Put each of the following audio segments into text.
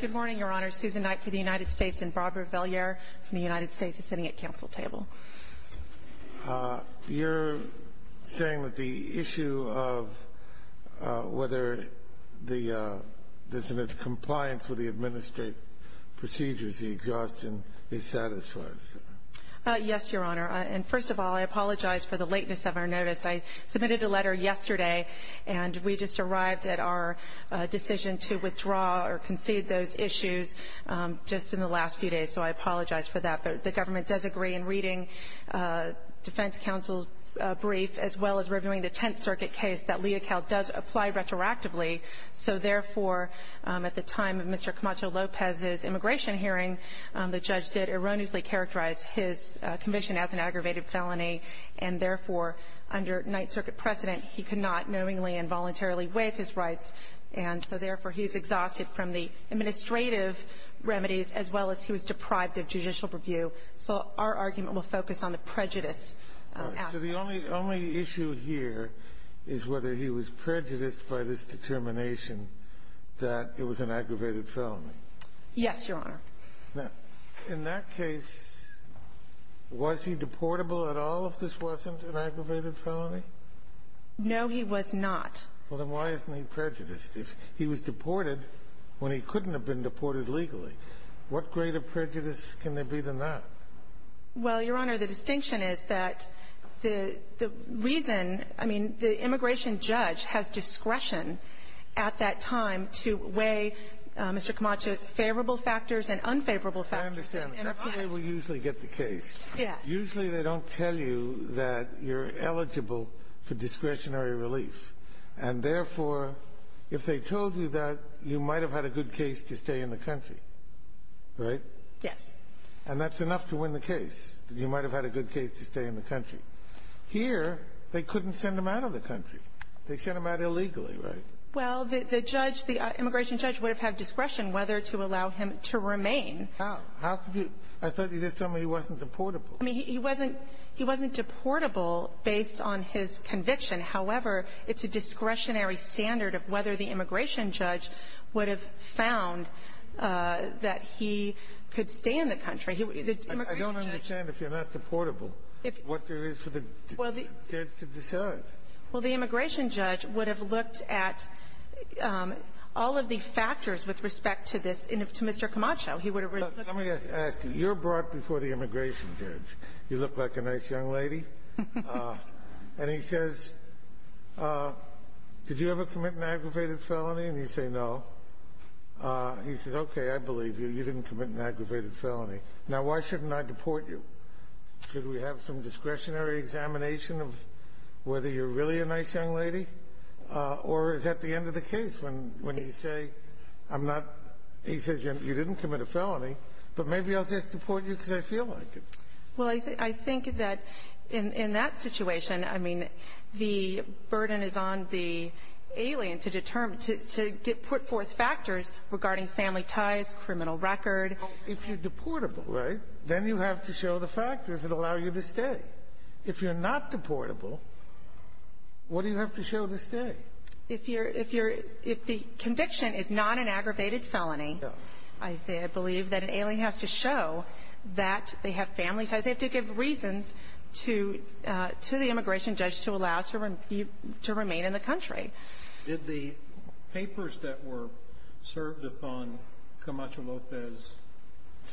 Good morning, Your Honor. Susan Knight for the United States and Barbara Veller from the United States is sitting at council table. You're saying that the issue of whether there's a compliance with the administrative procedures, the exhaustion, is satisfied. Yes, Your Honor. And first of all, I apologize for the lateness of our notice. I submitted a letter yesterday, and we just arrived at our decision to withdraw or concede those issues just in the last few days, so I apologize for that. But the government does agree in reading defense counsel's brief as well as reviewing the Tenth Circuit case that Leocal does apply retroactively. So therefore, at the time of Mr. Camacho-Lopez's immigration hearing, the judge did erroneously characterize his conviction as an aggravated felony and therefore, under Ninth Circuit precedent, he cannot knowingly and voluntarily waive his rights. And so therefore, he's exhausted from the administrative remedies as well as he was deprived of judicial review. So our argument will focus on the prejudice aspect. So the only issue here is whether he was prejudiced by this determination that it was an aggravated felony. Yes, Your Honor. Now, in that case, was he deportable at all if this wasn't an aggravated felony? No, he was not. Well, then why isn't he prejudiced? If he was deported when he couldn't have been deported legally, what greater prejudice can there be than that? Well, Your Honor, the distinction is that the reason, I mean, the immigration judge has discretion at that time to weigh Mr. Camacho's favorable factors and unfavorable factors. I understand. That's the way we usually get the case. Yes. Usually, they don't tell you that you're eligible for discretionary relief, and therefore, if they told you that, you might have had a good case to stay in the country. Right? Yes. And that's enough to win the case, that you might have had a good case to stay in the country. Here, they couldn't send him out of the country. They sent him out illegally, right? Well, the judge, the immigration judge would have had discretion whether to allow him to remain. How? How could you? I thought you were just telling me he wasn't deportable. I mean, he wasn't he wasn't deportable based on his conviction. However, it's a discretionary standard of whether the immigration judge would have found that he could stay in the country. The immigration judge — Well, the immigration judge would have looked at all of the factors with respect to this and to Mr. Camacho. He would have — Let me ask you. You're brought before the immigration judge. You look like a nice young lady. And he says, did you ever commit an aggravated felony? And you say no. He says, okay, I believe you. You didn't commit an aggravated felony. Now, why shouldn't I deport you? Should we have some discretionary examination of whether you're really a nice young lady? Or is that the end of the case when you say, I'm not — he says, you didn't commit a felony, but maybe I'll just deport you because I feel like it. Well, I think that in that situation, I mean, the burden is on the alien to determine — to put forth factors regarding family ties, criminal record. If you're deportable, right, then you have to show the factors that allow you to stay. If you're not deportable, what do you have to show to stay? If you're — if the conviction is not an aggravated felony, I believe that an alien has to show that they have family ties. They have to give reasons to the immigration judge to allow you to remain in the country. Did the papers that were served upon Camacho Lopez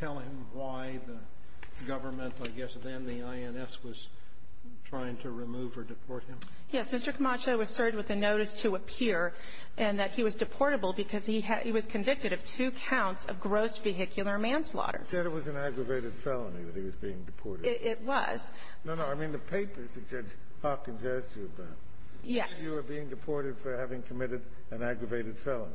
tell him why the government — I guess then the INS was trying to remove or deport him? Yes. Mr. Camacho was served with a notice to appear and that he was deportable because he was convicted of two counts of gross vehicular manslaughter. You said it was an aggravated felony that he was being deported. It was. No, no. I mean, the papers that Judge Hawkins asked you about. Yes. That you were being deported for having committed an aggravated felony.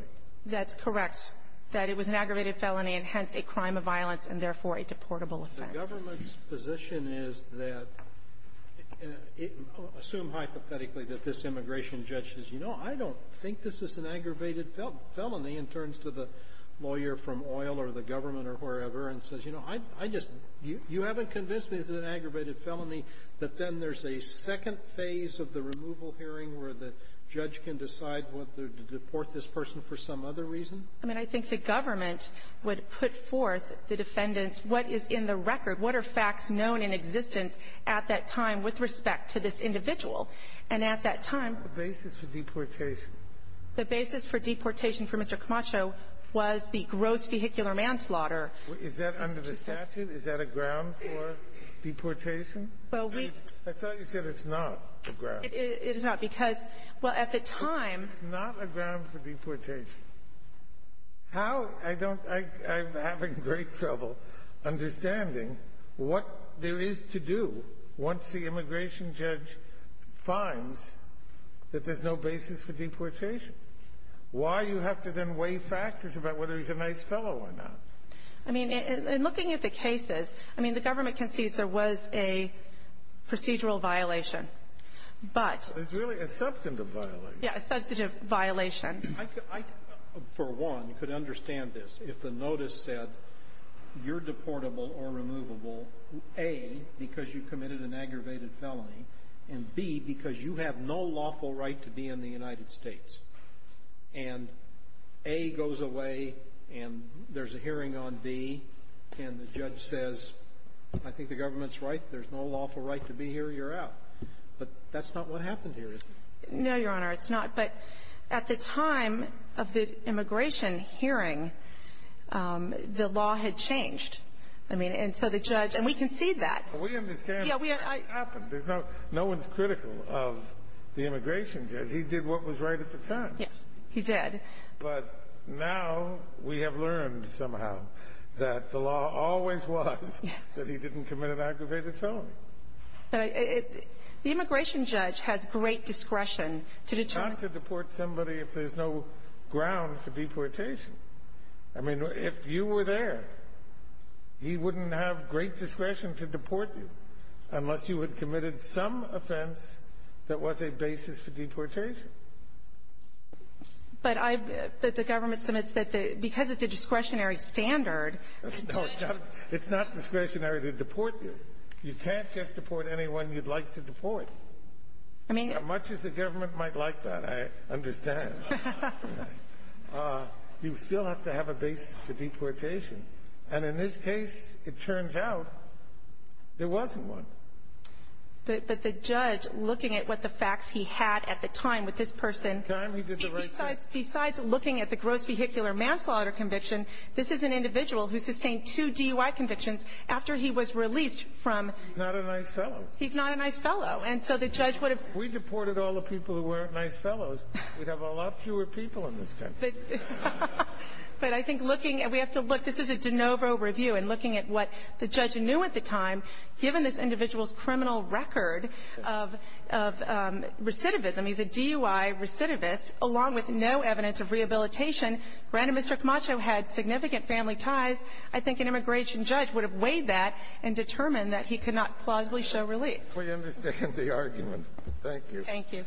That's correct, that it was an aggravated felony and, hence, a crime of violence and, therefore, a deportable offense. The government's position is that — assume hypothetically that this immigration judge says, you know, I don't think this is an aggravated felony, in terms of the lawyer from oil or the government or wherever, and says, you know, I just — you haven't convinced me it's an aggravated felony, that then there's a second phase of the removal hearing where the judge can decide whether to deport this person for some other reason? I mean, I think the government would put forth the defendants what is in the record. What are facts known in existence at that time with respect to this individual? And at that time — What's the basis for deportation? The basis for deportation for Mr. Camacho was the gross vehicular manslaughter. Is that under the statute? Is that a ground for deportation? Well, we — I thought you said it's not a ground. It is not, because, well, at the time — It's not a ground for deportation. How — I don't — I'm having great trouble understanding what there is to do once the immigration judge finds that there's no basis for deportation, why you have to then weigh factors about whether he's a nice fellow or not. I mean, in looking at the cases, I mean, the government concedes there was a procedural violation, but — It's really a substantive violation. Yeah, a substantive violation. I could — I, for one, could understand this if the notice said you're deportable or removable, A, because you committed an aggravated felony, and, B, because you have no lawful right to be in the United States. And A goes away, and there's a hearing on B, and the judge says, I think the government's right, there's no lawful right to be here, you're out. But that's not what happened here, is it? No, Your Honor. It's not. But at the time of the immigration hearing, the law had changed. I mean, and so the judge — and we concede that. We understand what happened. There's no — no one's critical of the immigration judge. He did what was right at the time. Yes. He did. But now we have learned somehow that the law always was that he didn't commit an aggravated felony. But it — the immigration judge has great discretion to determine — Not to deport somebody if there's no ground for deportation. I mean, if you were there, he wouldn't have great discretion to deport you unless you had committed some offense that was a basis for deportation. But I — but the government submits that the — because it's a discretionary standard — No, it's not discretionary to deport you. You can't just deport anyone you'd like to deport. I mean — As much as the government might like that, I understand. You still have to have a basis for deportation. And in this case, it turns out there wasn't one. But the judge, looking at what the facts he had at the time with this person — At the time, he did the right thing. Besides looking at the gross vehicular manslaughter conviction, this is an individual who sustained two DUI convictions after he was released from — He's not a nice fellow. He's not a nice fellow. And so the judge would have — If we deported all the people who weren't nice fellows, we'd have a lot fewer people in this country. But I think looking — we have to look — this is a de novo review. And looking at what the judge knew at the time, given this individual's criminal record of recidivism — he's a DUI recidivist — along with no evidence of rehabilitation, granted Mr. Camacho had significant family ties. I think an immigration judge would have weighed that and determined that he could not plausibly show relief. We understand the argument. Thank you. Thank you.